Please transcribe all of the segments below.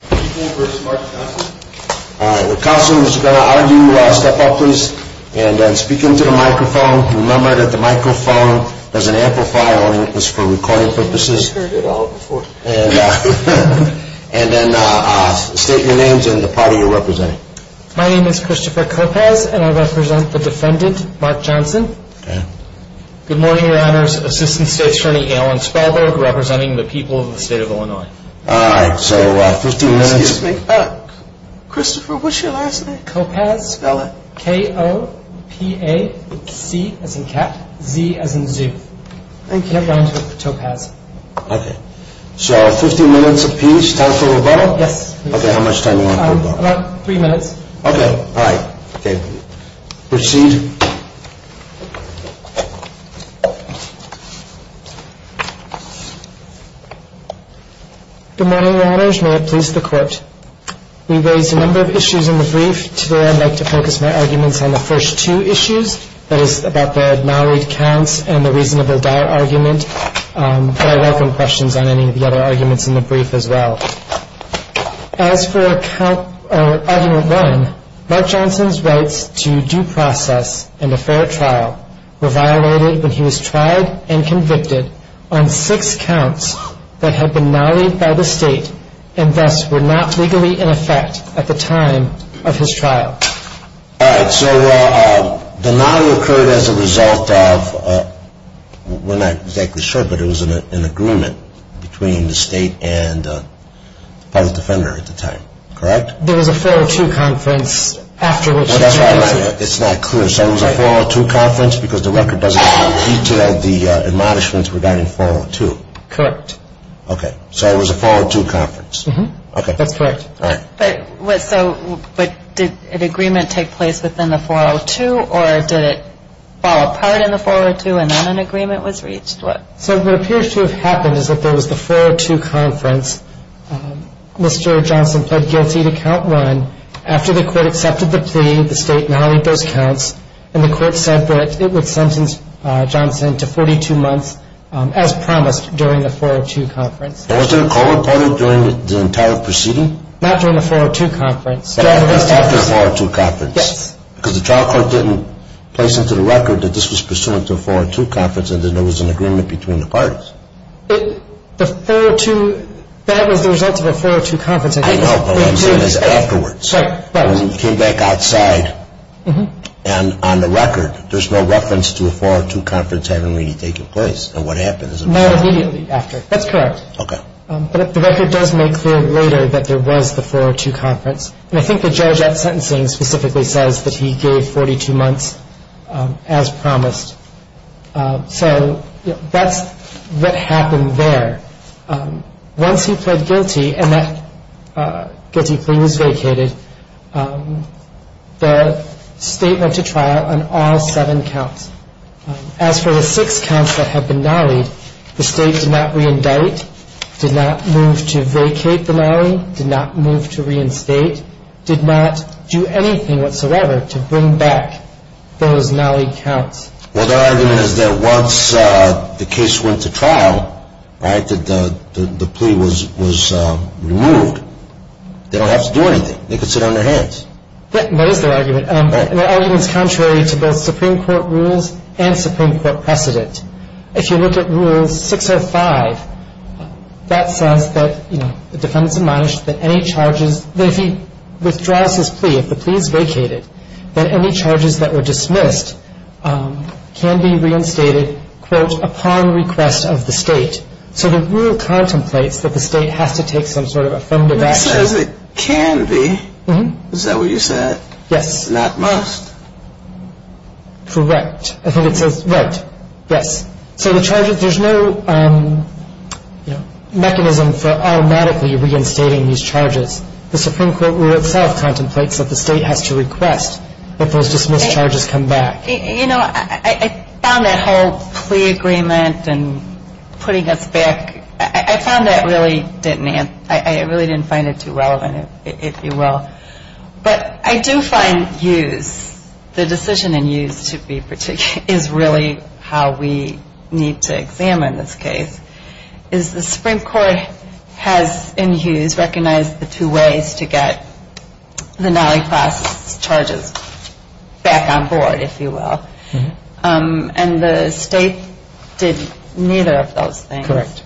The counsel is going to argue, step up please and speak into the microphone. Remember that the microphone has an amplifier on it for recording purposes. And then state your names and the party you are representing. My name is Christopher Karpaz and I represent the defendant, Mark Johnson. Good morning your honors, Assistant State's Attorney Alan Spalberg representing the people of the state of Illinois. Christopher, what's your last name? Karpaz. K-O-P-A-Z as in cat, Z as in zoo. Thank you. So, 15 minutes a piece, time for rebuttal? Yes. Okay, how much time do you want for rebuttal? About three minutes. Okay, all right, okay. Proceed. Good morning your honors, may it please the court. We raised a number of issues in the brief. Today I'd like to focus my arguments on the first two issues, that is about the married counts and the reasonable dower argument. But I welcome questions on any of the other arguments in the brief as well. As for argument one, Mark Johnson's rights to due process and a fair trial were violated when he was tried and convicted on six counts that had been nollied by the state and thus were not legally in effect at the time of his trial. All right, so the nolly occurred as a result of, we're not exactly sure, but it was an agreement between the state and the public defender at the time, correct? There was a 402 conference after which he was convicted. That's right, it's not clear. So it was a 402 conference because the record doesn't detail the admonishments regarding 402. Correct. Okay, so it was a 402 conference. That's correct. All right. So did an agreement take place within the 402 or did it fall apart in the 402 and then an agreement was reached? So what appears to have happened is that there was the 402 conference. Mr. Johnson pled guilty to count one. After the court accepted the plea, the state nollied those counts, and the court said that it would sentence Johnson to 42 months as promised during the 402 conference. Was there a call reported during the entire proceeding? Not during the 402 conference. After the 402 conference. Yes. Because the trial court didn't place into the record that this was pursuant to a 402 conference and that there was an agreement between the parties. The 402, that was the result of a 402 conference. I know, but what I'm saying is afterwards. Right, right. When he came back outside, and on the record, there's no reference to a 402 conference having really taken place. And what happened is a 402. Not immediately after. That's correct. Okay. But the record does make clear later that there was the 402 conference. And I think the judge at sentencing specifically says that he gave 42 months as promised. So that's what happened there. Once he pled guilty, and that guilty plea was vacated, the state went to trial on all seven counts. As for the six counts that have been nollied, the state did not reindict, did not move to vacate the nollie, did not move to reinstate, did not do anything whatsoever to bring back those nollie counts. Well, their argument is that once the case went to trial, right, that the plea was removed, they don't have to do anything. They can sit on their hands. That is their argument. Right. Their argument is contrary to both Supreme Court rules and Supreme Court precedent. If you look at Rule 605, that says that, you know, the defendant's admonished that any charges, that if he withdraws his plea, if the plea is vacated, that any charges that were dismissed can be reinstated, quote, upon request of the state. So the rule contemplates that the state has to take some sort of affirmative action. It says it can be. Is that what you said? Yes. Not must. Correct. I think it says right. Yes. So the charges, there's no, you know, mechanism for automatically reinstating these charges. The Supreme Court rule itself contemplates that the state has to request that those dismissed charges come back. You know, I found that whole plea agreement and putting us back, I found that really didn't answer, I really didn't find it too relevant, if you will. But I do find Hughes, the decision in Hughes to be particularly, is really how we need to examine this case, is the Supreme Court has, in Hughes, recognized the two ways to get the Nally class charges back on board, if you will. And the state did neither of those things. Correct.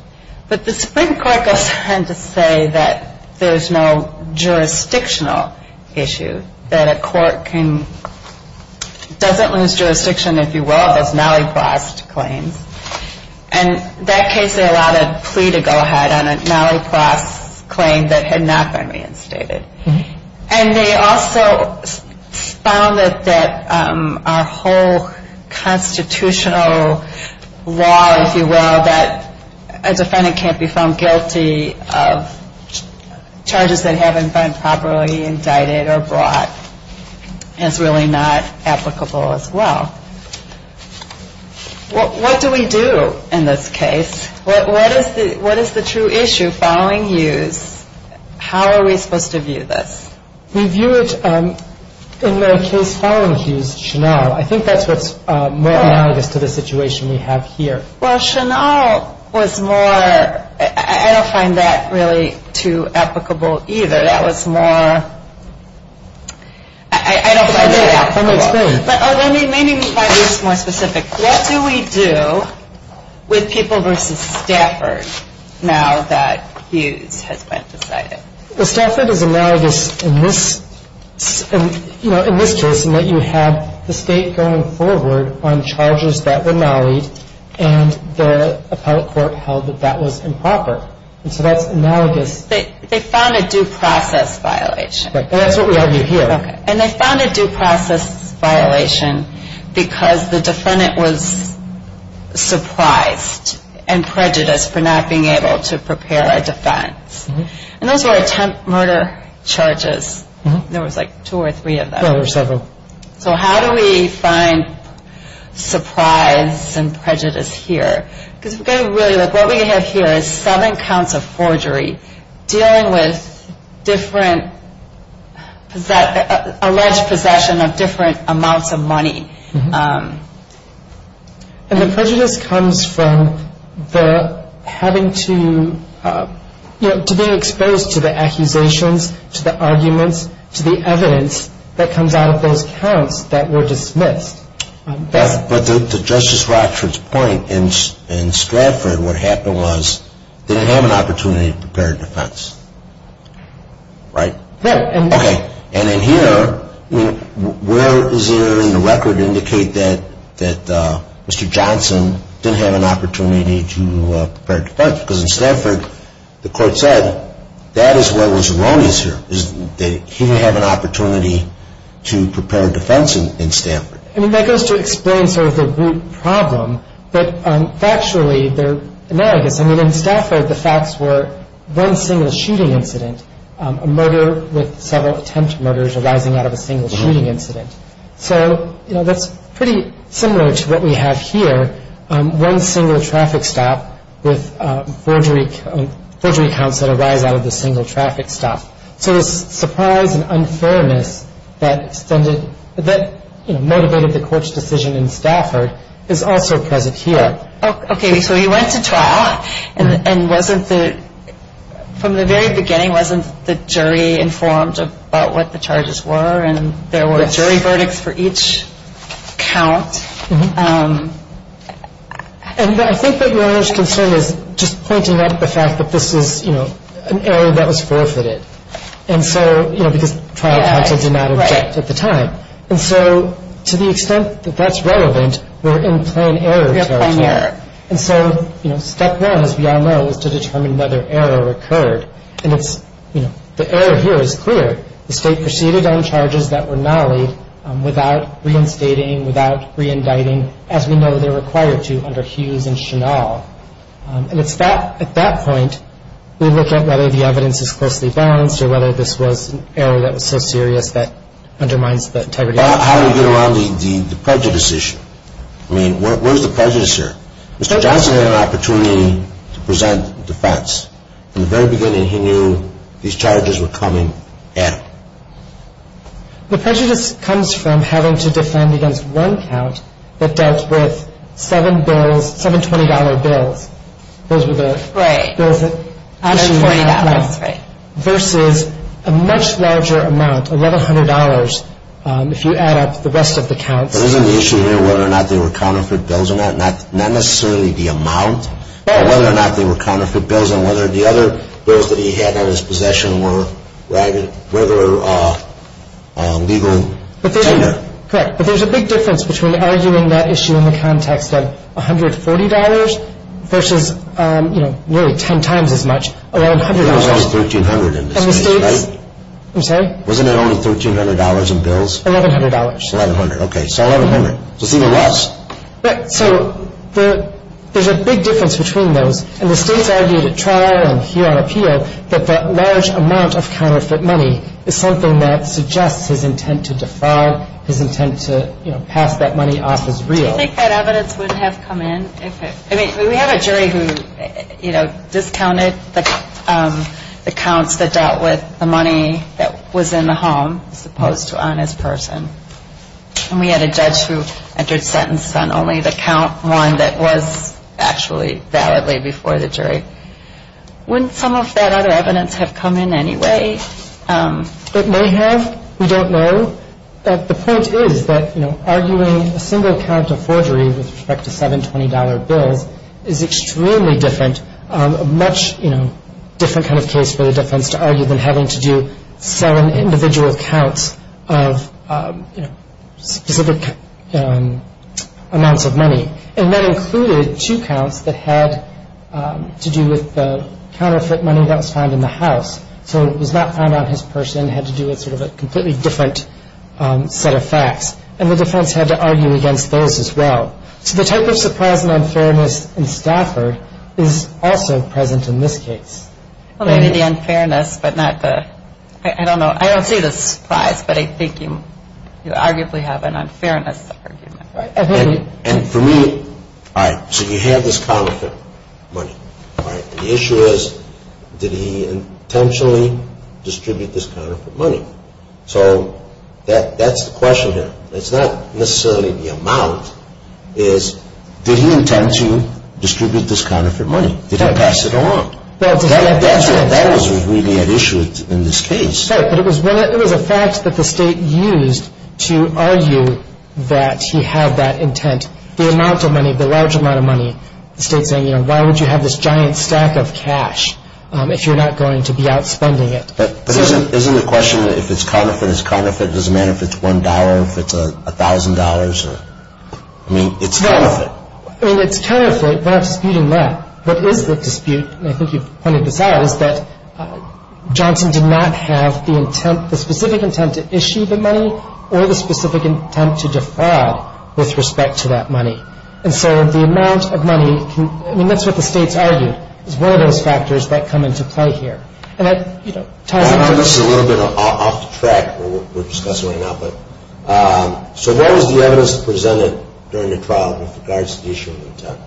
But the Supreme Court goes on to say that there's no jurisdictional issue, that a court can, doesn't lose jurisdiction, if you will, of those Nally class claims. And that case, they allowed a plea to go ahead on a Nally class claim that had not been reinstated. And they also found that our whole constitutional law, if you will, that a defendant can't be found guilty of charges that haven't been properly indicted or brought is really not applicable as well. What do we do in this case? What is the true issue following Hughes? How are we supposed to view this? We view it in the case following Hughes, Chanal. I think that's what's more analogous to the situation we have here. Well, Chanal was more, I don't find that really too applicable either. That was more, I don't find it applicable. Let me explain. What do we do with people versus Stafford now that Hughes has been decided? Stafford is analogous in this case in that you have the state going forward on charges that were Nally'd and the appellate court held that that was improper. So that's analogous. They found a due process violation. That's what we have here. And they found a due process violation because the defendant was surprised and prejudiced for not being able to prepare a defense. And those were attempt murder charges. There was like two or three of them. There were several. So how do we find surprise and prejudice here? Because what we have here is seven counts of forgery dealing with different alleged possession of different amounts of money. And the prejudice comes from the having to, you know, to being exposed to the accusations, to the arguments, to the evidence that comes out of those counts that were dismissed. Beth, but to Justice Rochford's point, in Stafford what happened was they didn't have an opportunity to prepare a defense. Right? Yeah. Okay. And in here, where is there in the record indicate that Mr. Johnson didn't have an opportunity to prepare a defense? Because in Stafford the court said that is what was erroneous here, that he didn't have an opportunity to prepare a defense in Stafford. I mean, that goes to explain sort of the root problem, but factually they're analogous. I mean, in Stafford the facts were one single shooting incident, a murder with several attempt murders arising out of a single shooting incident. So, you know, that's pretty similar to what we have here, one single traffic stop with forgery counts that arise out of a single traffic stop. So this surprise and unfairness that motivated the court's decision in Stafford is also present here. Okay. So he went to trial and from the very beginning wasn't the jury informed about what the charges were and there were jury verdicts for each count. And I think that Your Honor's concern is just pointing out the fact that this is, you know, an error that was forfeited. And so, you know, because trial counts did not object at the time. Right. And so to the extent that that's relevant, we're in plan error territory. We're in plan error. And so, you know, step one, as we all know, is to determine whether error occurred. And it's, you know, the error here is clear. The state proceeded on charges that were nollied without reinstating, without re-indicting, as we know they're required to under Hughes and Chenal. And it's at that point we look at whether the evidence is closely balanced or whether this was an error that was so serious that undermines the integrity of the case. How do we get around the prejudice issue? I mean, where's the prejudice here? Mr. Johnson had an opportunity to present defense. In the very beginning, he knew these charges were coming at him. The prejudice comes from having to defend against one count that dealt with seven bills, seven $20 bills. Those were the bills that actually went up. Right. Versus a much larger amount, $1,100, if you add up the rest of the counts. But isn't the issue here whether or not they were counterfeit bills or not? Not necessarily the amount, but whether or not they were counterfeit bills and whether the other bills that he had in his possession were legal tender. Correct. But there's a big difference between arguing that issue in the context of $140 versus, you know, nearly 10 times as much, $1,100. $1,100 is $1,300 in this case, right? I'm sorry? Wasn't it only $1,300 in bills? $1,100. $1,100. Okay. So $1,100. Just even less. Right. So there's a big difference between those. And the states argued at trial and here on appeal that the large amount of counterfeit money is something that suggests his intent to defraud, his intent to, you know, pass that money off as real. Do you think that evidence would have come in? I mean, we have a jury who, you know, discounted the counts that dealt with the money that was in the home as opposed to on his person. And we had a judge who entered sentences on only the count one that was actually validly before the jury. Wouldn't some of that other evidence have come in anyway? It may have. We don't know. But the point is that, you know, arguing a single count of forgery with respect to $720 bills is extremely different, a much, you know, different kind of case for the defense to argue than having to do seven individual counts of, you know, specific amounts of money. And that included two counts that had to do with the counterfeit money that was found in the house. So it was not found on his person. It had to do with sort of a completely different set of facts. And the defense had to argue against those as well. So the type of surprise and unfairness in Stafford is also present in this case. Well, maybe the unfairness, but not the, I don't know, I don't see the surprise, but I think you arguably have an unfairness argument. And for me, all right, so you have this counterfeit money, all right, and the issue is did he intentionally distribute this counterfeit money? So that's the question here. It's not necessarily the amount. It's did he intend to distribute this counterfeit money? Did he pass it along? That was really at issue in this case. Right, but it was a fact that the state used to argue that he had that intent. The amount of money, the large amount of money, the state saying, you know, why would you have this giant stack of cash if you're not going to be outspending it? But isn't the question that if it's counterfeit, it's counterfeit, it doesn't matter if it's $1, if it's $1,000? I mean, it's counterfeit. I mean, it's counterfeit, but I'm disputing that. What is the dispute, and I think you've pointed this out, is that Johnson did not have the intent, the specific intent to issue the money or the specific intent to defraud with respect to that money. And so the amount of money, I mean, that's what the states argued, is one of those factors that come into play here. And that, you know, ties in. I'm just a little bit off the track of what we're discussing right now. So what was the evidence presented during the trial with regards to the issue of intent?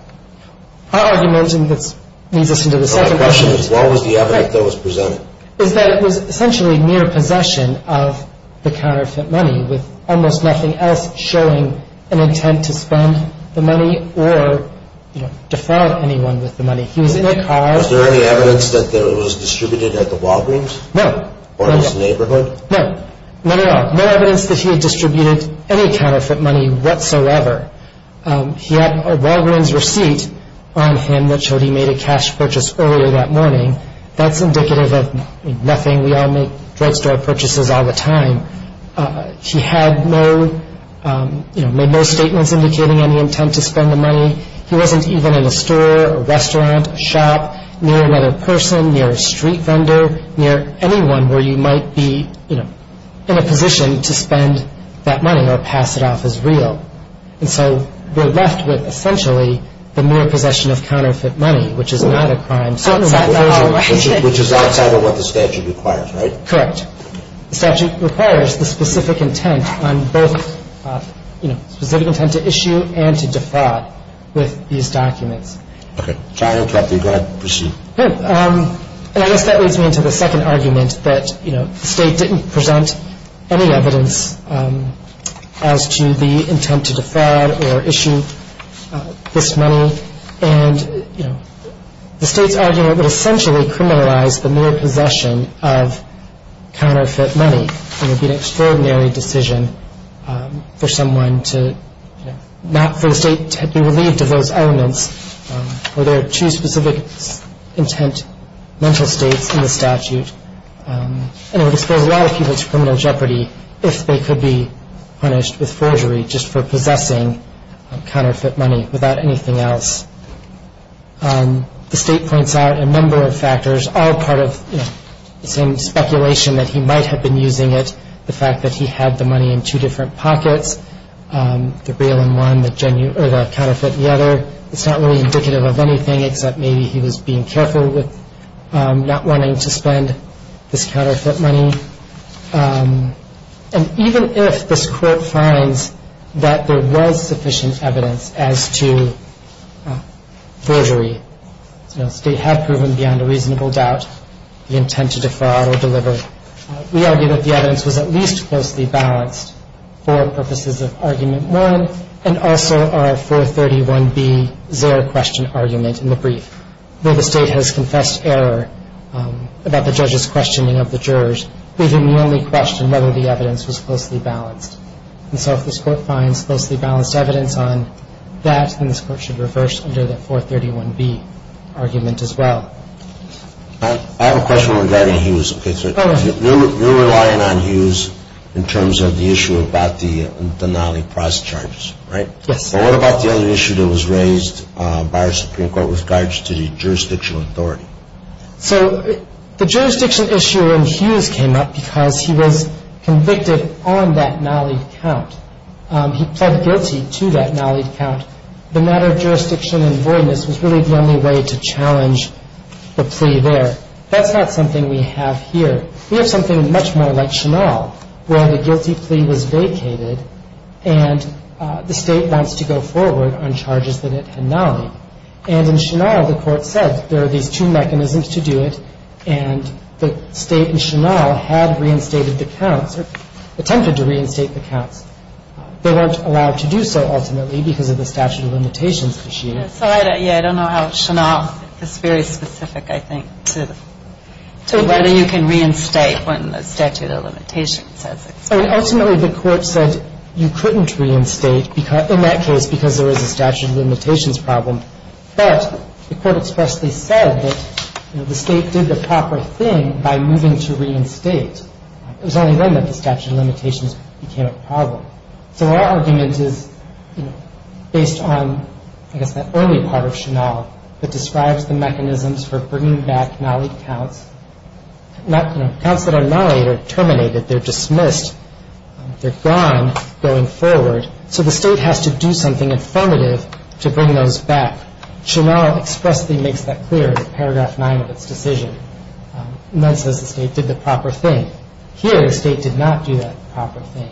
Our argument, and this leads us into the second question. The question is what was the evidence that was presented? Is that it was essentially mere possession of the counterfeit money with almost nothing else showing an intent to spend the money or defraud anyone with the money. He was in a car. Was there any evidence that it was distributed at the Walgreens? No. Or his neighborhood? No. None at all. No evidence that he had distributed any counterfeit money whatsoever. He had a Walgreens receipt on him that showed he made a cash purchase earlier that morning. That's indicative of nothing. We all make drugstore purchases all the time. He had no, you know, made no statements indicating any intent to spend the money. He wasn't even in a store or restaurant, a shop, near another person, near a street vendor, near anyone where you might be, you know, in a position to spend that money or pass it off as real. And so we're left with essentially the mere possession of counterfeit money, which is not a crime. Which is outside of what the statute requires, right? Correct. The statute requires the specific intent on both, you know, specific intent to issue and to defraud with these documents. Okay. Sorry to interrupt you. Go ahead. Proceed. Okay. And I guess that leads me into the second argument that, you know, the state didn't present any evidence as to the intent to defraud or issue this money. And, you know, the state's argument would essentially criminalize the mere possession of counterfeit money. It would be an extraordinary decision for someone to, you know, for the state to be relieved of those elements where there are two specific intent mental states in the statute. And it would expose a lot of people to criminal jeopardy if they could be punished with forgery just for possessing counterfeit money without anything else. The state points out a number of factors, all part of, you know, the same speculation that he might have been using it, the fact that he had the money in two different pockets, the real and one, the counterfeit and the other. It's not really indicative of anything except maybe he was being careful with not wanting to spend this counterfeit money. And even if this court finds that there was sufficient evidence as to forgery, you know, the state had proven beyond a reasonable doubt the intent to defraud or deliver, we argue that the evidence was at least closely balanced for purposes of argument one and also our 431B Zerr question argument in the brief. Though the state has confessed error about the judge's questioning of the jurors, we can only question whether the evidence was closely balanced. And so if this court finds closely balanced evidence on that, then this court should reverse under the 431B argument as well. I have a question regarding Hughes. You're relying on Hughes in terms of the issue about the Nalee price charges, right? Yes. What about the other issue that was raised by our Supreme Court with regards to the jurisdictional authority? So the jurisdiction issue in Hughes came up because he was convicted on that Nalee count. He pled guilty to that Nalee count. The matter of jurisdiction and voidness was really the only way to challenge the plea there. That's not something we have here. We have something much more like Chenal where the guilty plea was vacated and the state wants to go forward on charges that it had Nalee. And in Chenal, the court said there are these two mechanisms to do it, and the state in Chenal had reinstated the counts or attempted to reinstate the counts. They weren't allowed to do so ultimately because of the statute of limitations issue. So I don't know how Chenal is very specific, I think, to whether you can reinstate when the statute of limitations says so. Ultimately, the court said you couldn't reinstate in that case because there was a statute of limitations problem. But the court expressly said that the state did the proper thing by moving to reinstate. It was only then that the statute of limitations became a problem. So our argument is based on, I guess, that early part of Chenal that describes the mechanisms for bringing back Nalee counts. Counts that are Nalee are terminated, they're dismissed, they're gone going forward. So the state has to do something affirmative to bring those back. Chenal expressly makes that clear in paragraph 9 of its decision. And that says the state did the proper thing. Here, the state did not do that proper thing.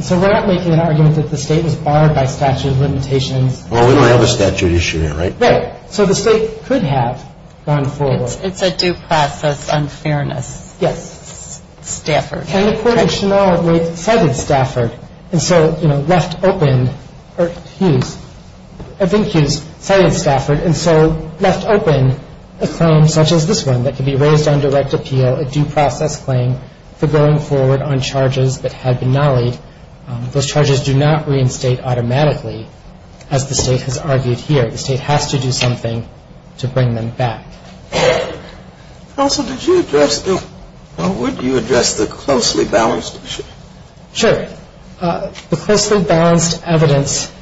So we're not making an argument that the state was barred by statute of limitations. Well, we don't have a statute issue here, right? Right. So the state could have gone forward. It's a due process unfairness. Yes. Stafford. And the court in Chenal cited Stafford and so left open, or Hughes, I think Hughes cited Stafford and so left open a claim such as this one that could be raised on direct appeal, a due process claim for going forward on charges that had been Naleed. Those charges do not reinstate automatically, as the state has argued here. The state has to do something to bring them back. Counsel, did you address the, or would you address the closely balanced issue? Sure. The closely balanced evidence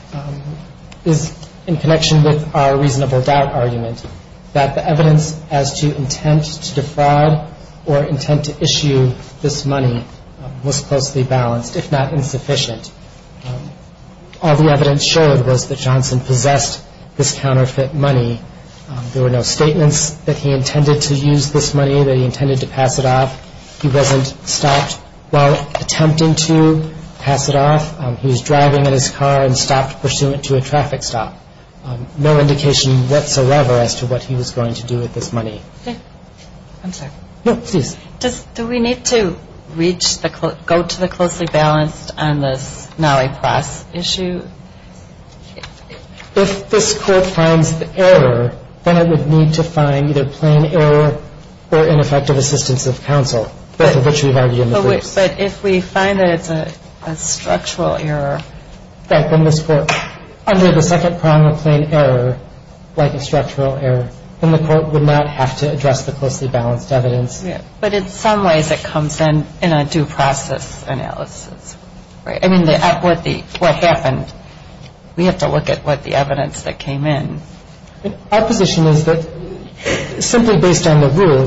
is in connection with our reasonable doubt argument, that the evidence as to intent to defraud or intent to issue this money was closely balanced, if not insufficient. All the evidence showed was that Johnson possessed this counterfeit money. There were no statements that he intended to use this money, that he intended to pass it off. He wasn't stopped while attempting to pass it off. He was driving in his car and stopped pursuant to a traffic stop. No indication whatsoever as to what he was going to do with this money. I'm sorry. No, please. Do we need to reach the, go to the closely balanced on this Naleed Press issue? If this Court finds the error, then it would need to find either plain error or ineffective assistance of counsel, both of which we've argued in the briefs. But if we find that it's a structural error. Right. Then this Court, under the second prong of plain error, like a structural error, then the Court would not have to address the closely balanced evidence. Yeah. But in some ways it comes in in a due process analysis, right? I mean, what happened? We have to look at what the evidence that came in. Our position is that simply based on the rule,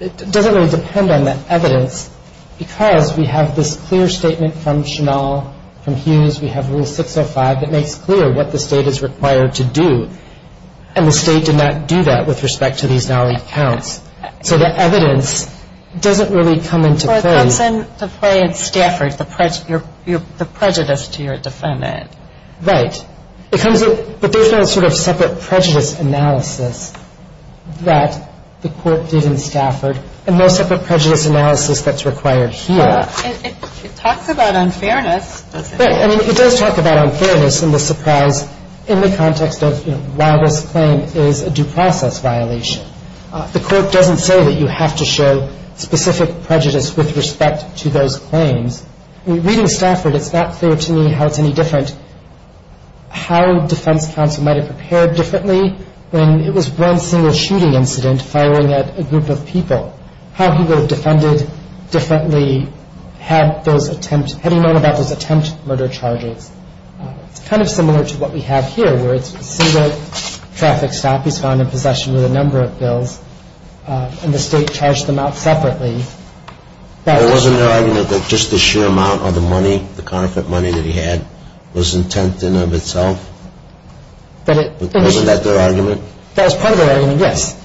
it doesn't really depend on the evidence because we have this clear statement from Chenal, from Hughes. We have Rule 605 that makes clear what the State is required to do. And the State did not do that with respect to these Naleed counts. So the evidence doesn't really come into play. It comes into play in Stafford, the prejudice to your defendant. Right. But there's no sort of separate prejudice analysis that the Court did in Stafford and no separate prejudice analysis that's required here. Well, it talks about unfairness, doesn't it? Right. I mean, it does talk about unfairness and the surprise in the context of why this claim is a due process violation. The Court doesn't say that you have to show specific prejudice with respect to those claims. Reading Stafford, it's not clear to me how it's any different, how defense counsel might have prepared differently when it was one single shooting incident firing at a group of people, how he would have defended differently had he known about those attempt murder charges. It's kind of similar to what we have here, where it's a single traffic stop. He's found in possession with a number of bills, and the State charged them out separately. But wasn't there argument that just the sheer amount of the money, the counterfeit money that he had, was intent in and of itself? But wasn't that their argument? That was part of their argument, yes.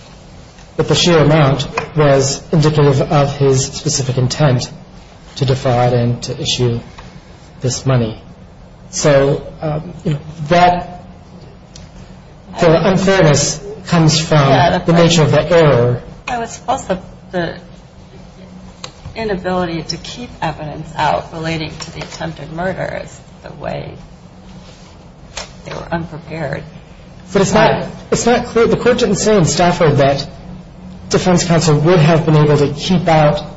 But the sheer amount was indicative of his specific intent to defraud and to issue this money. So that unfairness comes from the nature of the error. It was also the inability to keep evidence out relating to the attempted murders, the way they were unprepared. But it's not clear. The court didn't say in Stafford that defense counsel would have been able to keep out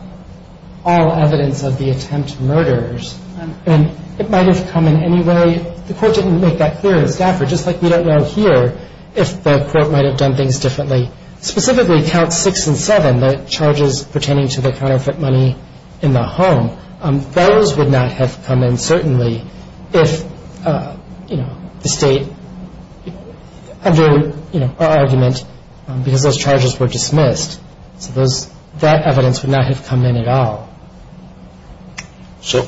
all evidence of the attempt murders. And it might have come in any way. The court didn't make that clear in Stafford, just like we don't know here if the court might have done things differently. Specifically, Counts 6 and 7, the charges pertaining to the counterfeit money in the home, those would not have come in, certainly, if the State under our argument, because those charges were dismissed. So that evidence would not have come in at all. So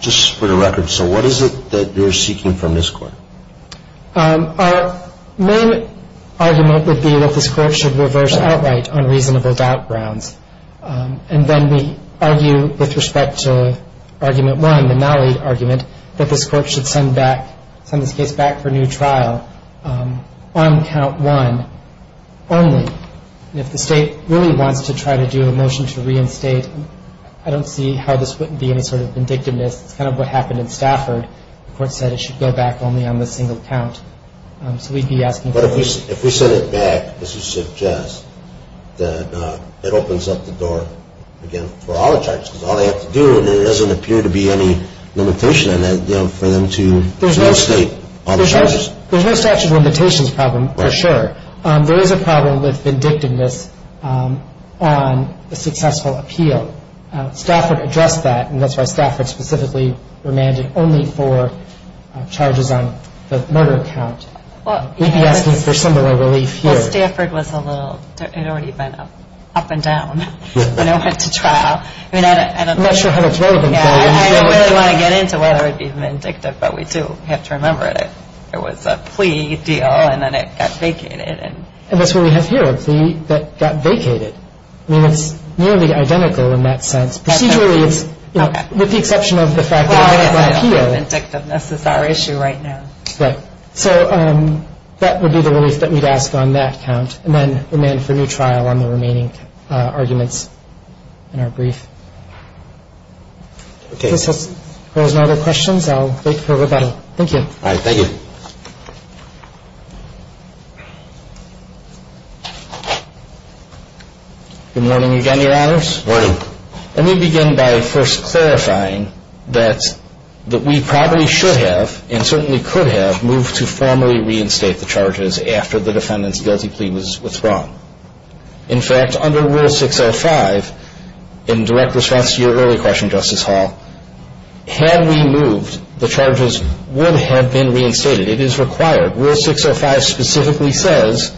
just for the record, so what is it that you're seeking from this court? Our main argument would be that this court should reverse outright on reasonable doubt grounds. And then we argue with respect to Argument 1, the nollie argument, that this court should send this case back for new trial on Count 1 only. If the State really wants to try to do a motion to reinstate, I don't see how this wouldn't be any sort of vindictiveness. It's kind of what happened in Stafford. The court said it should go back only on the single count. But if we send it back, does it suggest that it opens up the door again for all the charges? Because all they have to do, and there doesn't appear to be any limitation on that, for them to reinstate all the charges. There's no statute of limitations problem, for sure. There is a problem with vindictiveness on a successful appeal. So Stafford addressed that, and that's why Stafford specifically remanded only for charges on the murder count. We'd be asking for similar relief here. Well, Stafford was a little, it had already been up and down when it went to trial. I'm not sure how that's relevant. I don't really want to get into whether it would be vindictive, but we do have to remember it. It was a plea deal, and then it got vacated. And that's what we have here, a plea that got vacated. I mean, it's nearly identical in that sense. Procedurally, it's, with the exception of the fact that it was on appeal. Well, I guess vindictiveness is our issue right now. Right. So that would be the relief that we'd ask on that count, and then remand for new trial on the remaining arguments in our brief. Okay. If there's no other questions, I'll wait for rebuttal. Thank you. All right. Thank you. Good morning again, Your Honors. Morning. Let me begin by first clarifying that we probably should have and certainly could have moved to formally reinstate the charges after the defendant's guilty plea was withdrawn. In fact, under Rule 605, in direct response to your earlier question, Justice Hall, had we moved, the charges would have been reinstated. It is required. Rule 605 specifically says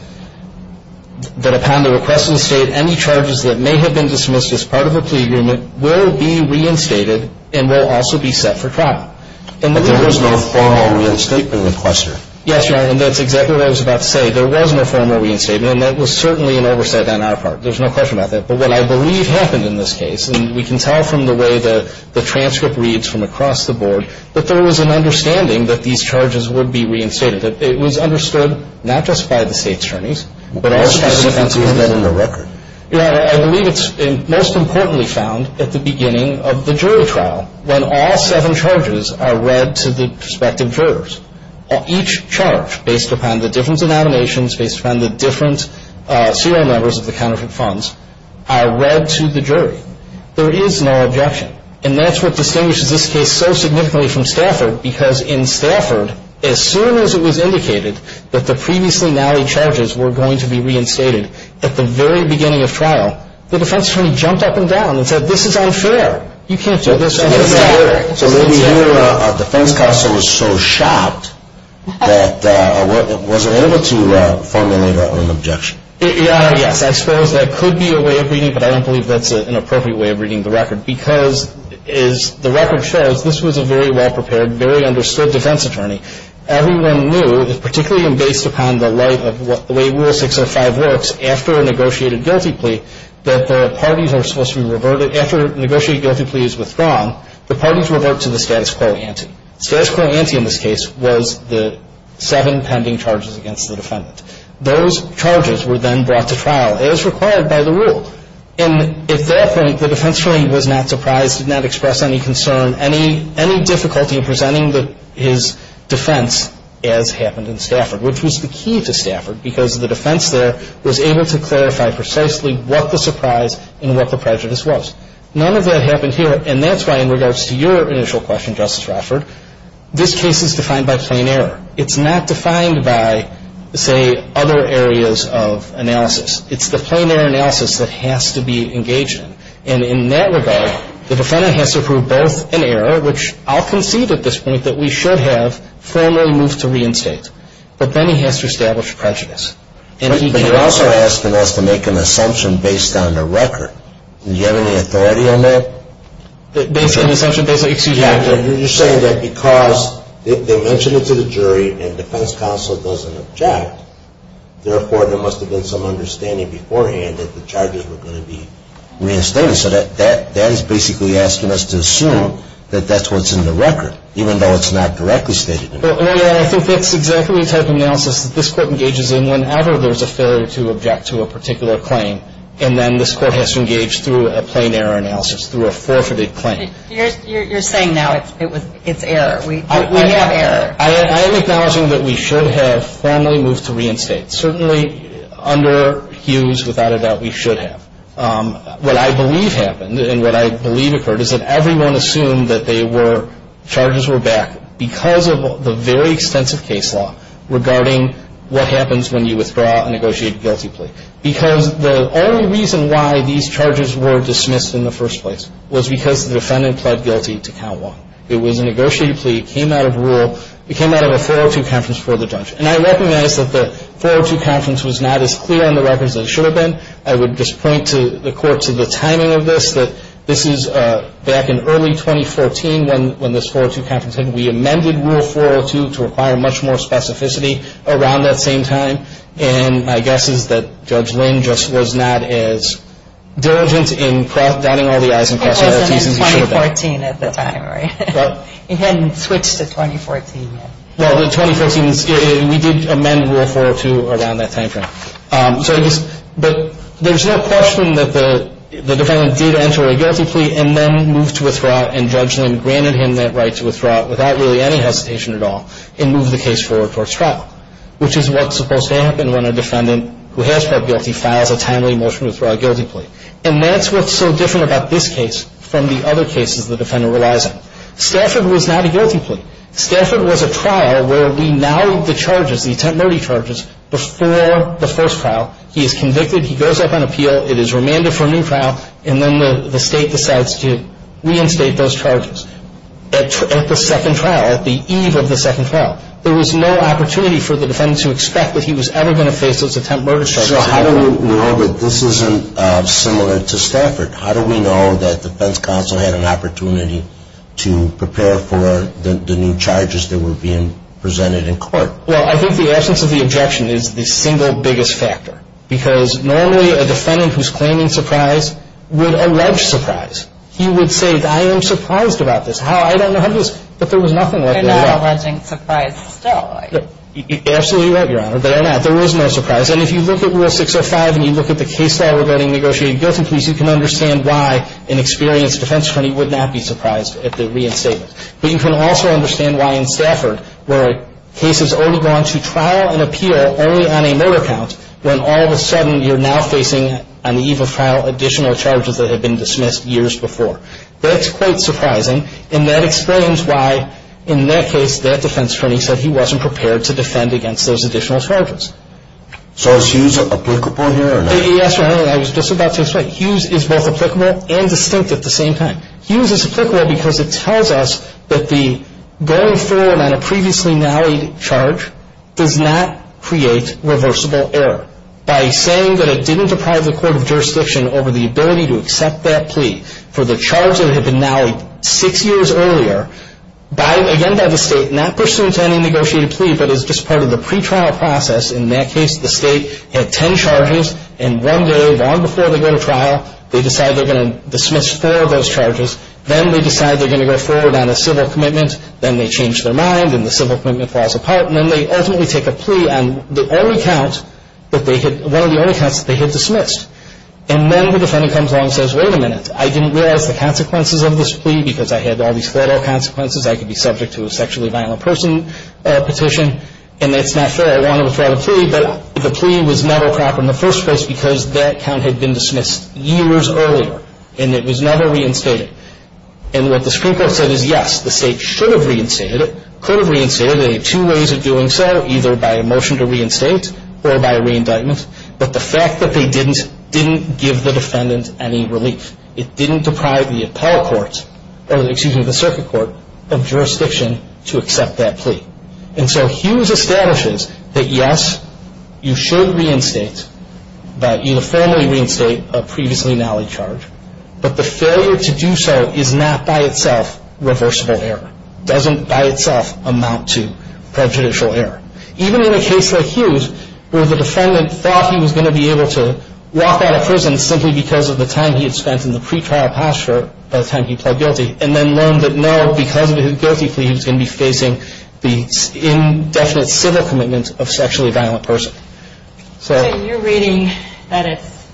that upon the request of the State, any charges that may have been dismissed as part of a plea agreement will be reinstated and will also be set for trial. But there was no formal reinstatement request, sir. Yes, Your Honor, and that's exactly what I was about to say. There was no formal reinstatement, and that was certainly an oversight on our part. There's no question about that. But what I believe happened in this case, and we can tell from the way the transcript reads from across the board, that there was an understanding that these charges would be reinstated, that it was understood not just by the State's attorneys, but also by the defense's attorneys. How specific is that in the record? Your Honor, I believe it's most importantly found at the beginning of the jury trial when all seven charges are read to the prospective jurors. Each charge, based upon the different denominations, based upon the different serial numbers of the counterfeit funds, are read to the jury. There is no objection. Right. And that's what distinguishes this case so significantly from Stafford, because in Stafford, as soon as it was indicated that the previously nallied charges were going to be reinstated at the very beginning of trial, the defense attorney jumped up and down and said, this is unfair, you can't do this under Stafford. So maybe your defense counsel was so shocked that wasn't able to formulate an objection. Yes, I suppose that could be a way of reading, but I don't believe that's an appropriate way of reading the record, because as the record shows, this was a very well-prepared, very understood defense attorney. Everyone knew, particularly based upon the light of the way Rule 605 works, after a negotiated guilty plea, that the parties are supposed to be reverted. After a negotiated guilty plea is withdrawn, the parties revert to the status quo ante. The status quo ante in this case was the seven pending charges against the defendant. Those charges were then brought to trial as required by the rule. And at that point, the defense attorney was not surprised, did not express any concern, any difficulty in presenting his defense as happened in Stafford, which was the key to Stafford because the defense there was able to clarify precisely what the surprise and what the prejudice was. None of that happened here, and that's why in regards to your initial question, Justice Raffert, this case is defined by plain error. It's not defined by, say, other areas of analysis. It's the plain error analysis that has to be engaged in. And in that regard, the defendant has to prove both an error, which I'll concede at this point, that we should have formally moved to reinstate. But then he has to establish prejudice. But you're also asking us to make an assumption based on the record. Do you have any authority on that? An assumption based on the record? You're saying that because they mentioned it to the jury and defense counsel doesn't object, therefore there must have been some understanding beforehand that the charges were going to be reinstated. So that is basically asking us to assume that that's what's in the record, even though it's not directly stated in the record. Well, yeah, I think that's exactly the type of analysis that this Court engages in whenever there's a failure to object to a particular claim. And then this Court has to engage through a plain error analysis, through a forfeited claim. You're saying now it's error. We have error. I am acknowledging that we should have formally moved to reinstate. Certainly under Hughes, without a doubt, we should have. What I believe happened, and what I believe occurred, is that everyone assumed that charges were back because of the very extensive case law regarding what happens when you withdraw a negotiated guilty plea. Because the only reason why these charges were dismissed in the first place was because the defendant pled guilty to count one. It was a negotiated plea. It came out of a 402 conference before the judge. And I recognize that the 402 conference was not as clear on the records as it should have been. I would just point the Court to the timing of this, that this is back in early 2014 when this 402 conference happened. We amended Rule 402 to require much more specificity around that same time. And my guess is that Judge Lynn just was not as diligent in dotting all the i's and crossing all the t's. It was 2014 at the time, right? He hadn't switched to 2014 yet. Well, in 2014, we did amend Rule 402 around that time frame. But there's no question that the defendant did enter a guilty plea and then moved to withdraw and Judge Lynn granted him that right to withdraw without really any hesitation at all and moved the case forward towards trial, which is what's supposed to happen when a defendant who has pled guilty files a timely motion to withdraw a guilty plea. And that's what's so different about this case from the other cases the defendant relies on. Stafford was not a guilty plea. Stafford was a trial where we now leave the charges, the attempt murder charges, before the first trial. He is convicted. He goes up on appeal. It is remanded for a new trial. And then the State decides to reinstate those charges at the second trial, at the eve of the second trial. There was no opportunity for the defendant to expect that he was ever going to face those attempt murder charges. How do we know that this isn't similar to Stafford? How do we know that the defense counsel had an opportunity to prepare for the new charges that were being presented in court? Well, I think the essence of the objection is the single biggest factor because normally a defendant who's claiming surprise would allege surprise. He would say, I am surprised about this. How? I don't know. But there was nothing like that at all. They're not alleging surprise still. Absolutely right, Your Honor. They're not. There was no surprise. And if you look at Rule 605 and you look at the case law regarding negotiated guilty pleas, you can understand why an experienced defense attorney would not be surprised at the reinstatement. But you can also understand why in Stafford, where a case has already gone to trial and appeal only on a murder count, when all of a sudden you're now facing, on the eve of trial, additional charges that had been dismissed years before. That's quite surprising. And that explains why, in that case, that defense attorney said he wasn't prepared to defend against those additional charges. So is Hughes applicable here or not? Yes, Your Honor, and I was just about to explain. Hughes is both applicable and distinct at the same time. Hughes is applicable because it tells us that the going forward on a previously nallied charge does not create reversible error. By saying that it didn't deprive the court of jurisdiction over the ability to accept that plea for the charge that had been nallied six years earlier by, again, by the state, not pursuant to any negotiated plea but as just part of the pretrial process, in that case, the state had ten charges and one day long before they go to trial, they decide they're going to dismiss four of those charges. Then they decide they're going to go forward on a civil commitment. Then they change their mind and the civil commitment falls apart. And then they ultimately take a plea on the only count that they hit, one of the only counts that they had dismissed. And then the defendant comes along and says, wait a minute. I didn't realize the consequences of this plea because I had all these fatal consequences. I could be subject to a sexually violent person petition, and that's not fair. I want to withdraw the plea, but the plea was never proper in the first place because that count had been dismissed years earlier, and it was never reinstated. And what the Supreme Court said is, yes, the state should have reinstated it, could have reinstated it. They had two ways of doing so, either by a motion to reinstate or by a reindictment. But the fact that they didn't, didn't give the defendant any relief. It didn't deprive the appellate court, or excuse me, the circuit court of jurisdiction to accept that plea. And so Hughes establishes that, yes, you should reinstate, uniformly reinstate a previously gnarly charge, but the failure to do so is not by itself reversible error, doesn't by itself amount to prejudicial error. Even in a case like Hughes, where the defendant thought he was going to be able to walk out of prison simply because of the time he had spent in the pretrial posture by the time he pled guilty, and then learned that no, because of his guilty plea, he was going to be facing the indefinite civil commitment of a sexually violent person. So you're reading that it's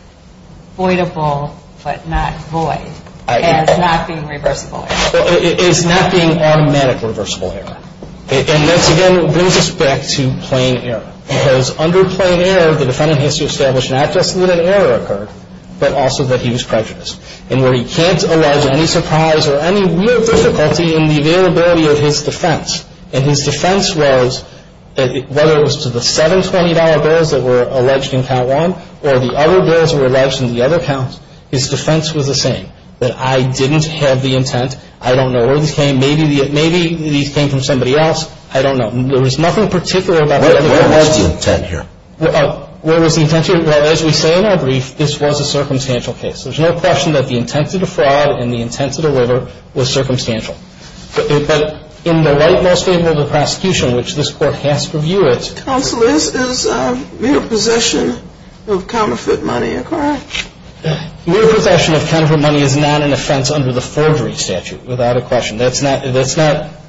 voidable, but not void, as not being reversible error. It's not being automatic reversible error. And this, again, brings us back to plain error. Because under plain error, the defendant has to establish not just that an error occurred, but also that he was prejudiced. And where he can't allege any surprise or any real difficulty in the availability of his defense. And his defense was, whether it was to the $720 bills that were alleged in count one, or the other bills that were alleged in the other counts, his defense was the same. That I didn't have the intent. I don't know where these came. Maybe these came from somebody else. I don't know. There was nothing particular about the evidence. Where was the intent here? Where was the intent here? Well, as we say in our brief, this was a circumstantial case. There's no question that the intent to defraud and the intent to deliver was circumstantial. But in the light most favorable to the prosecution, which this Court has to review it. Counsel, is mere possession of counterfeit money a crime? Mere possession of counterfeit money is not an offense under the forgery statute, without a question. That's not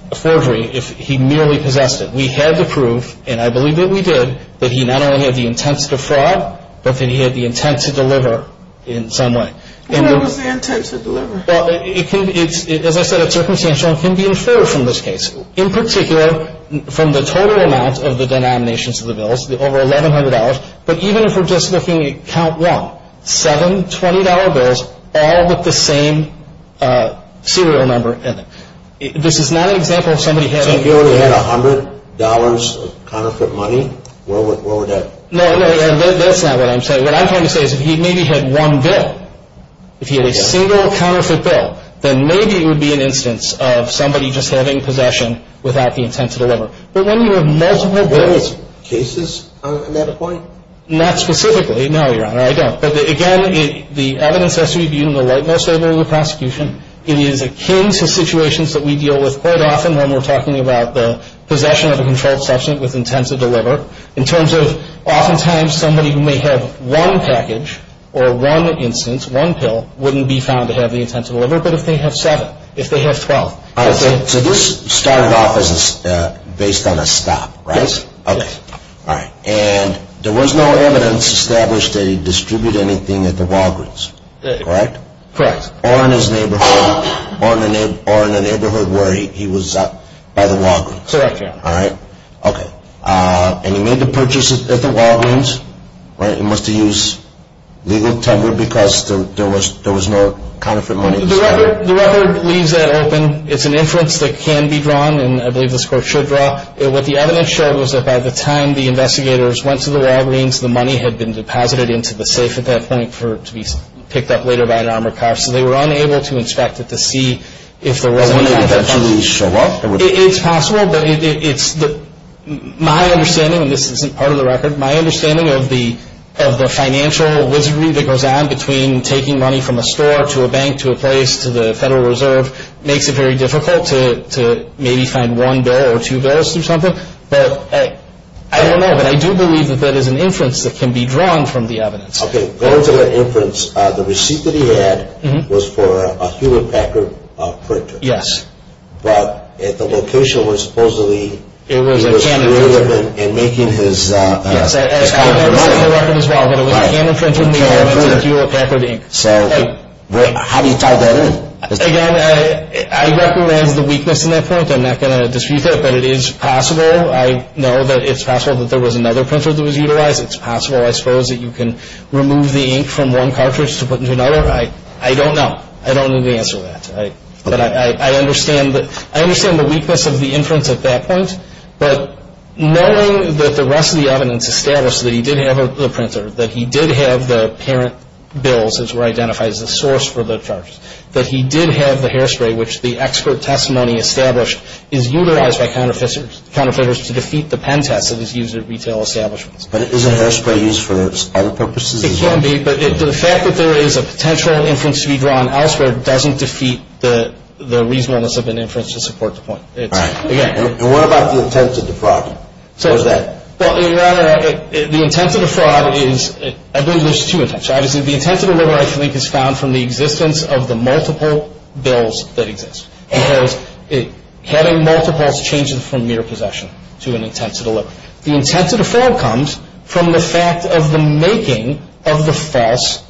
a forgery if he merely possessed it. We had the proof, and I believe that we did, that he not only had the intent to defraud, but that he had the intent to deliver in some way. What was the intent to deliver? Well, as I said, it's circumstantial and can be inferred from this case. In particular, from the total amount of the denominations of the bills, over $1,100. But even if we're just looking at count one, seven $20 bills all with the same serial number in them. This is not an example of somebody having. So he only had $100 of counterfeit money? No, that's not what I'm saying. What I'm trying to say is if he maybe had one bill, if he had a single counterfeit bill, then maybe it would be an instance of somebody just having possession without the intent to deliver. But when you have multiple bills. Are there cases on that point? Not specifically. No, Your Honor, I don't. But again, the evidence has to be viewed in the light most able of the prosecution. It is akin to situations that we deal with quite often when we're talking about the possession of a controlled substance with intent to deliver in terms of oftentimes somebody who may have one package or one instance, one pill, wouldn't be found to have the intent to deliver. But if they have seven, if they have 12. So this started off based on a stop, right? Yes. Okay. And there was no evidence established that he distributed anything at the Walgreens, correct? Correct. Or in his neighborhood, or in the neighborhood where he was at by the Walgreens. Correct, Your Honor. All right. Okay. And he made the purchase at the Walgreens, right? He must have used legal timber because there was no counterfeit money. The record leaves that open. It's an inference that can be drawn, and I believe this Court should draw. What the evidence showed was that by the time the investigators went to the Walgreens, the money had been deposited into the safe at that point to be picked up later by an armored car. So they were unable to inspect it to see if there was any counterfeit money. It's possible, but it's my understanding, and this isn't part of the record, my understanding of the financial wizardry that goes on between taking money from a store to a bank to a place to the Federal Reserve makes it very difficult to maybe find one bill or two bills or something. But I don't know, but I do believe that that is an inference that can be drawn from the evidence. Okay. Going to that inference, the receipt that he had was for a Hewlett Packard printer. Yes. But at the location where supposedly he was screwing up and making his counterfeit money. Yes, and that was in the record as well, but it was a canon print from the Hewlett Packard ink. So how do you tie that in? Again, I recognize the weakness in that point. I'm not going to dispute that, but it is possible. I know that it's possible that there was another printer that was utilized. It's possible, I suppose, that you can remove the ink from one cartridge to put into another. I don't know. I don't know the answer to that. But I understand the weakness of the inference at that point. But knowing that the rest of the evidence established that he did have the printer, that he did have the parent bills, as were identified as the source for the charges, that he did have the hairspray, which the expert testimony established is utilized by counterfeiters to defeat the pen test that is used at retail establishments. But isn't hairspray used for other purposes? It can be, but the fact that there is a potential inference to be drawn elsewhere doesn't defeat the reasonableness of an inference to support the point. All right. And what about the intent to defraud? What is that? Well, Your Honor, the intent to defraud is – I believe there's two intents. Obviously, the intent to deliver, I think, is found from the existence of the multiple bills that exist. Because having multiples changes from mere possession to an intent to deliver. The intent to defraud comes from the fact of the making of the false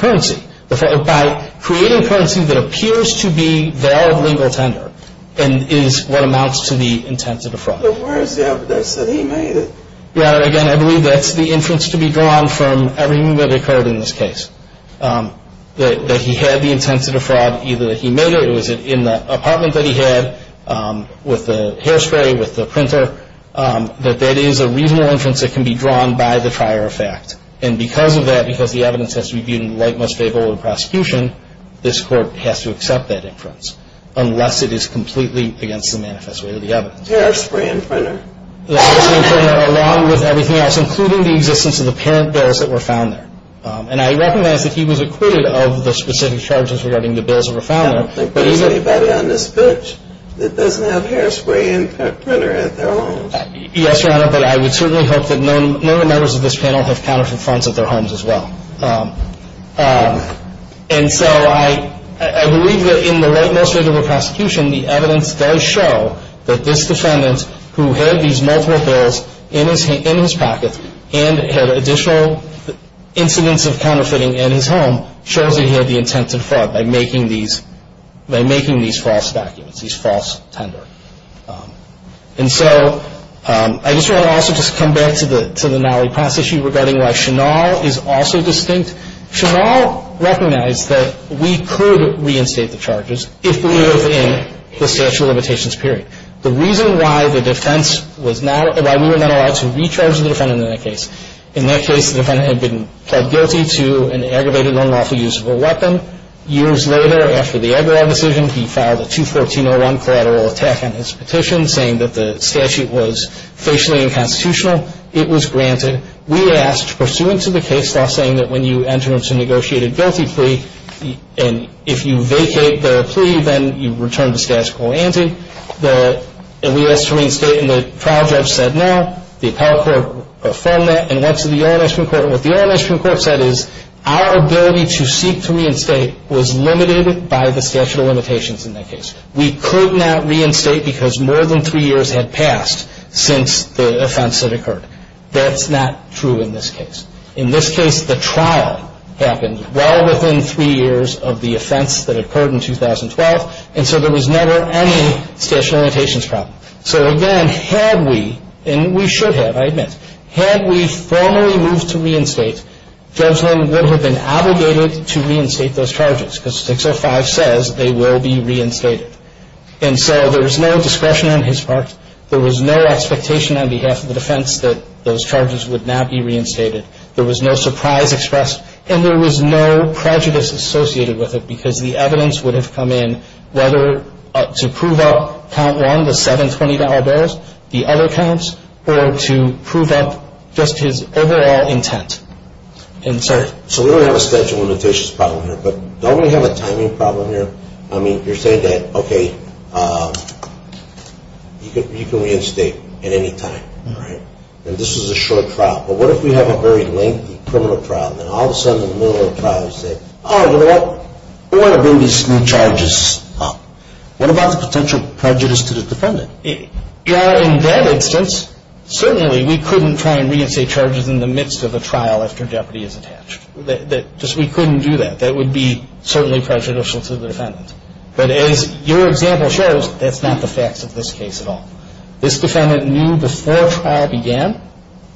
currency. By creating currency that appears to be their legal tender is what amounts to the intent to defraud. But where is the evidence that he made it? Your Honor, again, I believe that's the inference to be drawn from everything that occurred in this case. That he had the intent to defraud. Either he made it or it was in the apartment that he had with the hairspray, with the printer. That that is a reasonable inference that can be drawn by the prior effect. And because of that, because the evidence has to be viewed in the light most favorable of the prosecution, this Court has to accept that inference. Unless it is completely against the manifest way of the evidence. The hairspray and printer? The hairspray and printer, along with everything else, including the existence of the parent bills that were found there. And I recognize that he was acquitted of the specific charges regarding the bills that were found there. I don't think there's anybody on this bench that doesn't have hairspray and printer at their home. Yes, Your Honor, but I would certainly hope that none of the members of this panel have counterfeit funds at their homes as well. And so I believe that in the light most favorable of the prosecution, the evidence does show that this defendant, who had these multiple bills in his pocket, and had additional incidents of counterfeiting in his home, shows that he had the intent to defraud by making these false documents, these false tenders. And so I just want to also just come back to the Nally Pass issue regarding why Chennaul is also distinct. Chennaul recognized that we could reinstate the charges if we were within the statute of limitations period. The reason why the defense was not, why we were not allowed to recharge the defendant in that case, in that case the defendant had been pled guilty to an aggravated unlawful use of a weapon. Years later, after the Eberhard decision, he filed a 214-01 collateral attack on his petition, saying that the statute was facially unconstitutional. It was granted. We asked, pursuant to the case law, saying that when you enter into a negotiated guilty plea, and if you vacate the plea, then you return to status quo ante. We asked to reinstate, and the trial judge said no. The appellate court affirmed that and went to the U.S. Supreme Court. What the U.S. Supreme Court said is our ability to seek to reinstate was limited by the statute of limitations in that case. We could not reinstate because more than three years had passed since the offense had occurred. That's not true in this case. In this case, the trial happened well within three years of the offense that occurred in 2012, and so there was never any statute of limitations problem. So, again, had we, and we should have, I admit, had we formally moved to reinstate, Judgment would have been obligated to reinstate those charges because 605 says they will be reinstated. And so there was no discretion on his part. There was no expectation on behalf of the defense that those charges would not be reinstated. There was no surprise expressed, and there was no prejudice associated with it the other counts or to prove that just his overall intent. And, sir? So we don't have a statute of limitations problem here, but don't we have a timing problem here? I mean, you're saying that, okay, you can reinstate at any time, right? And this was a short trial, but what if we have a very lengthy criminal trial, and then all of a sudden in the middle of the trial you say, oh, you know what? We want to bring these new charges up. What about the potential prejudice to the defendant? In that instance, certainly we couldn't try and reinstate charges in the midst of a trial after jeopardy is attached. Just we couldn't do that. That would be certainly prejudicial to the defendant. But as your example shows, that's not the facts of this case at all. This defendant knew before trial began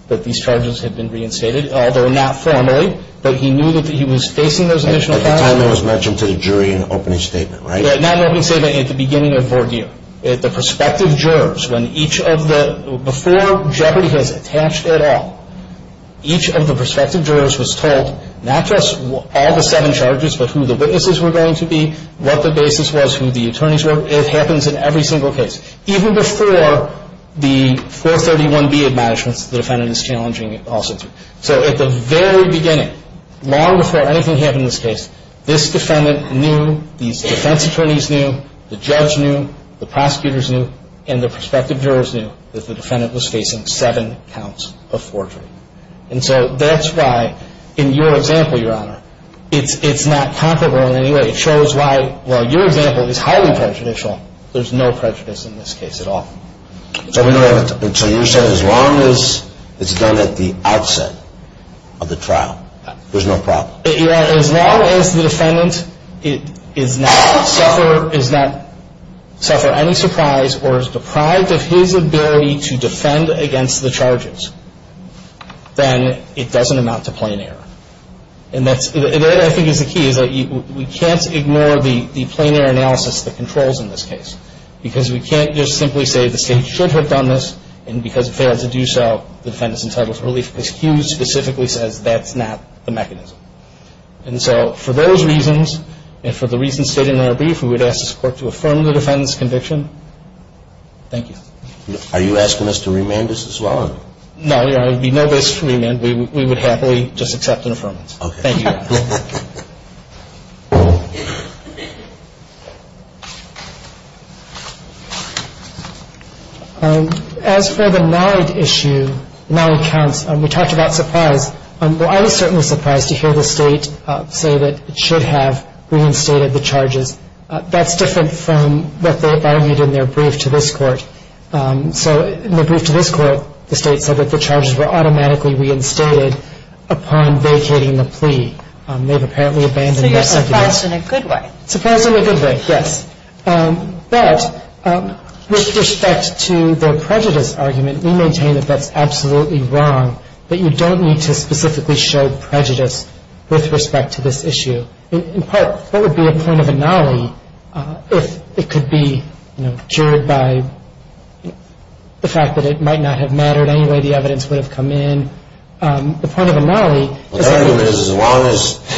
that these charges had been reinstated, although not formally, but he knew that he was facing those additional charges. At the time it was mentioned to the jury in the opening statement, right? Not in the opening statement, at the beginning of the ordeal. At the prospective jurors, when each of the – before jeopardy was attached at all, each of the prospective jurors was told not just all the seven charges, but who the witnesses were going to be, what the basis was, who the attorneys were. It happens in every single case. Even before the 431B admonishments, the defendant is challenging it also. So at the very beginning, long before anything happened in this case, this defendant knew, these defense attorneys knew, the judge knew, the prosecutors knew, and the prospective jurors knew that the defendant was facing seven counts of forgery. And so that's why in your example, Your Honor, it's not comparable in any way. It shows why while your example is highly prejudicial, there's no prejudice in this case at all. So you're saying as long as it's done at the outset of the trial, there's no problem? Your Honor, as long as the defendant is not – suffer any surprise or is deprived of his ability to defend against the charges, then it doesn't amount to plain error. And that, I think, is the key, is that we can't ignore the plain error analysis that controls in this case because we can't just simply say the state should have done this, and because it failed to do so, the defendant is entitled to relief. Because Hughes specifically says that's not the mechanism. And so for those reasons, and for the reasons stated in our brief, we would ask this Court to affirm the defendant's conviction. Thank you. Are you asking us to remand this as well? No, Your Honor. There would be no basis for remand. We would happily just accept an affirmance. Thank you, Your Honor. Thank you. As for the knowledge issue, knowledge counts, we talked about surprise. Well, I was certainly surprised to hear the state say that it should have reinstated the charges. That's different from what they argued in their brief to this Court. So in the brief to this Court, the state said that the charges were automatically reinstated upon vacating the plea. They've apparently abandoned the sentence. So you're surprised in a good way. Surprised in a good way, yes. But with respect to the prejudice argument, we maintain that that's absolutely wrong, that you don't need to specifically show prejudice with respect to this issue. In part, what would be a point of annulling if it could be, you know, juried by the fact that it might not have mattered any way the evidence would have come in? The point of annulling is... Well, the argument is as long as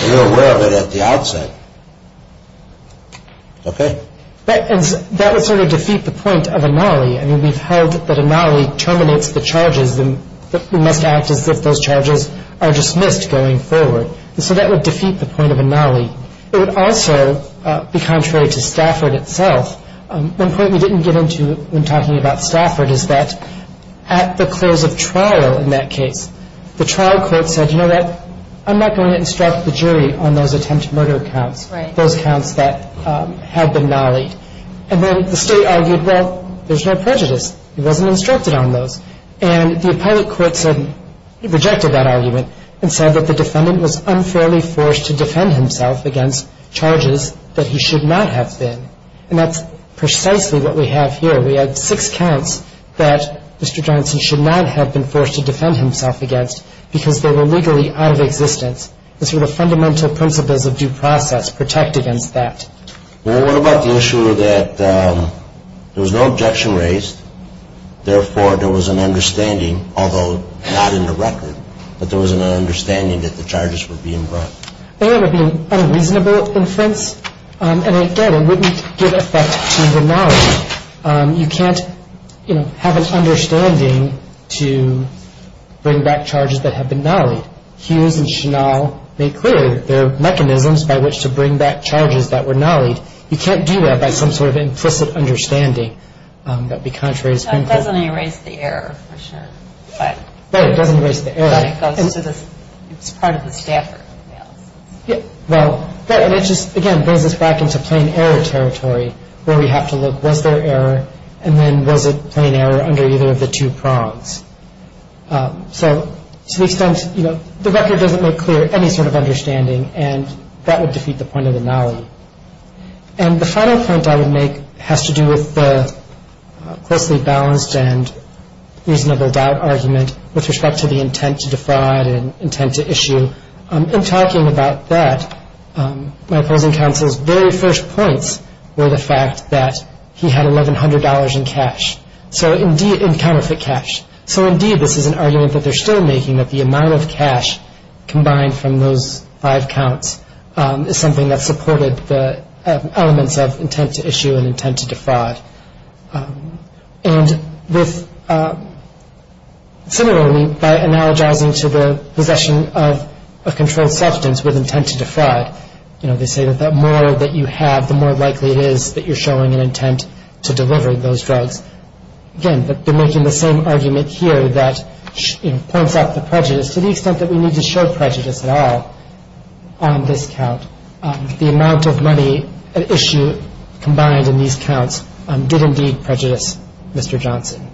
you're aware of it at the outset. Okay. That would sort of defeat the point of annulling. I mean, we've held that annulling terminates the charges. It must act as if those charges are dismissed going forward. And so that would defeat the point of annulling. It would also be contrary to Stafford itself. One point we didn't get into when talking about Stafford is that at the close of trial in that case, the trial court said, you know what? I'm not going to instruct the jury on those attempted murder counts, those counts that had been annulled. And then the state argued, well, there's no prejudice. It wasn't instructed on those. And the appellate court rejected that argument and said that the defendant was unfairly forced to defend himself against charges that he should not have been. And that's precisely what we have here. We had six counts that Mr. Johnson should not have been forced to defend himself against because they were legally out of existence. The sort of fundamental principles of due process protect against that. Well, what about the issue that there was no objection raised, therefore there was an understanding, although not in the record, that there was an understanding that the charges were being brought? I think that would be an unreasonable inference. And, again, it wouldn't give effect to the knowledge. You can't, you know, have an understanding to bring back charges that have been nullied. Hughes and Chenal made clear that there are mechanisms by which to bring back charges that were nullied. You can't do that by some sort of implicit understanding. That would be contrary to Supreme Court. It doesn't erase the error, for sure. Right, it doesn't erase the error. It's part of the Stafford analysis. Well, that just, again, brings us back into plain error territory where we have to look, was there error, and then was it plain error under either of the two prongs? So, to the extent, you know, the record doesn't make clear any sort of understanding, and that would defeat the point of the nullity. And the final point I would make has to do with the closely balanced and reasonable doubt argument with respect to the intent to defraud and intent to issue. In talking about that, my opposing counsel's very first points were the fact that he had $1,100 in cash, in counterfeit cash. So, indeed, this is an argument that they're still making, that the amount of cash combined from those five counts is something that supported the elements of intent to issue and intent to defraud. And similarly, by analogizing to the possession of a controlled substance with intent to defraud, you know, they say that the more that you have, the more likely it is that you're showing an intent to deliver those drugs. Again, they're making the same argument here that, you know, points out the prejudice. To the extent that we need to show prejudice at all on this count, the amount of money at issue combined in these counts did indeed prejudice Mr. Johnson.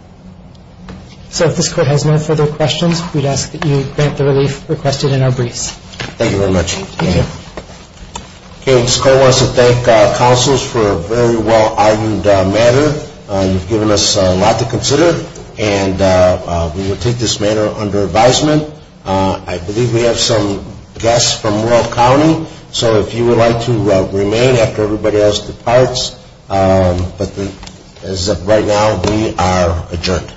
So, if this Court has no further questions, we'd ask that you grant the relief requested in our briefs. Thank you very much. Thank you. Okay. Ms. Cole wants to thank counsels for a very well-argued matter. You've given us a lot to consider, and we will take this matter under advisement. I believe we have some guests from Royal County. So, if you would like to remain after everybody else departs, but as of right now, we are adjourned.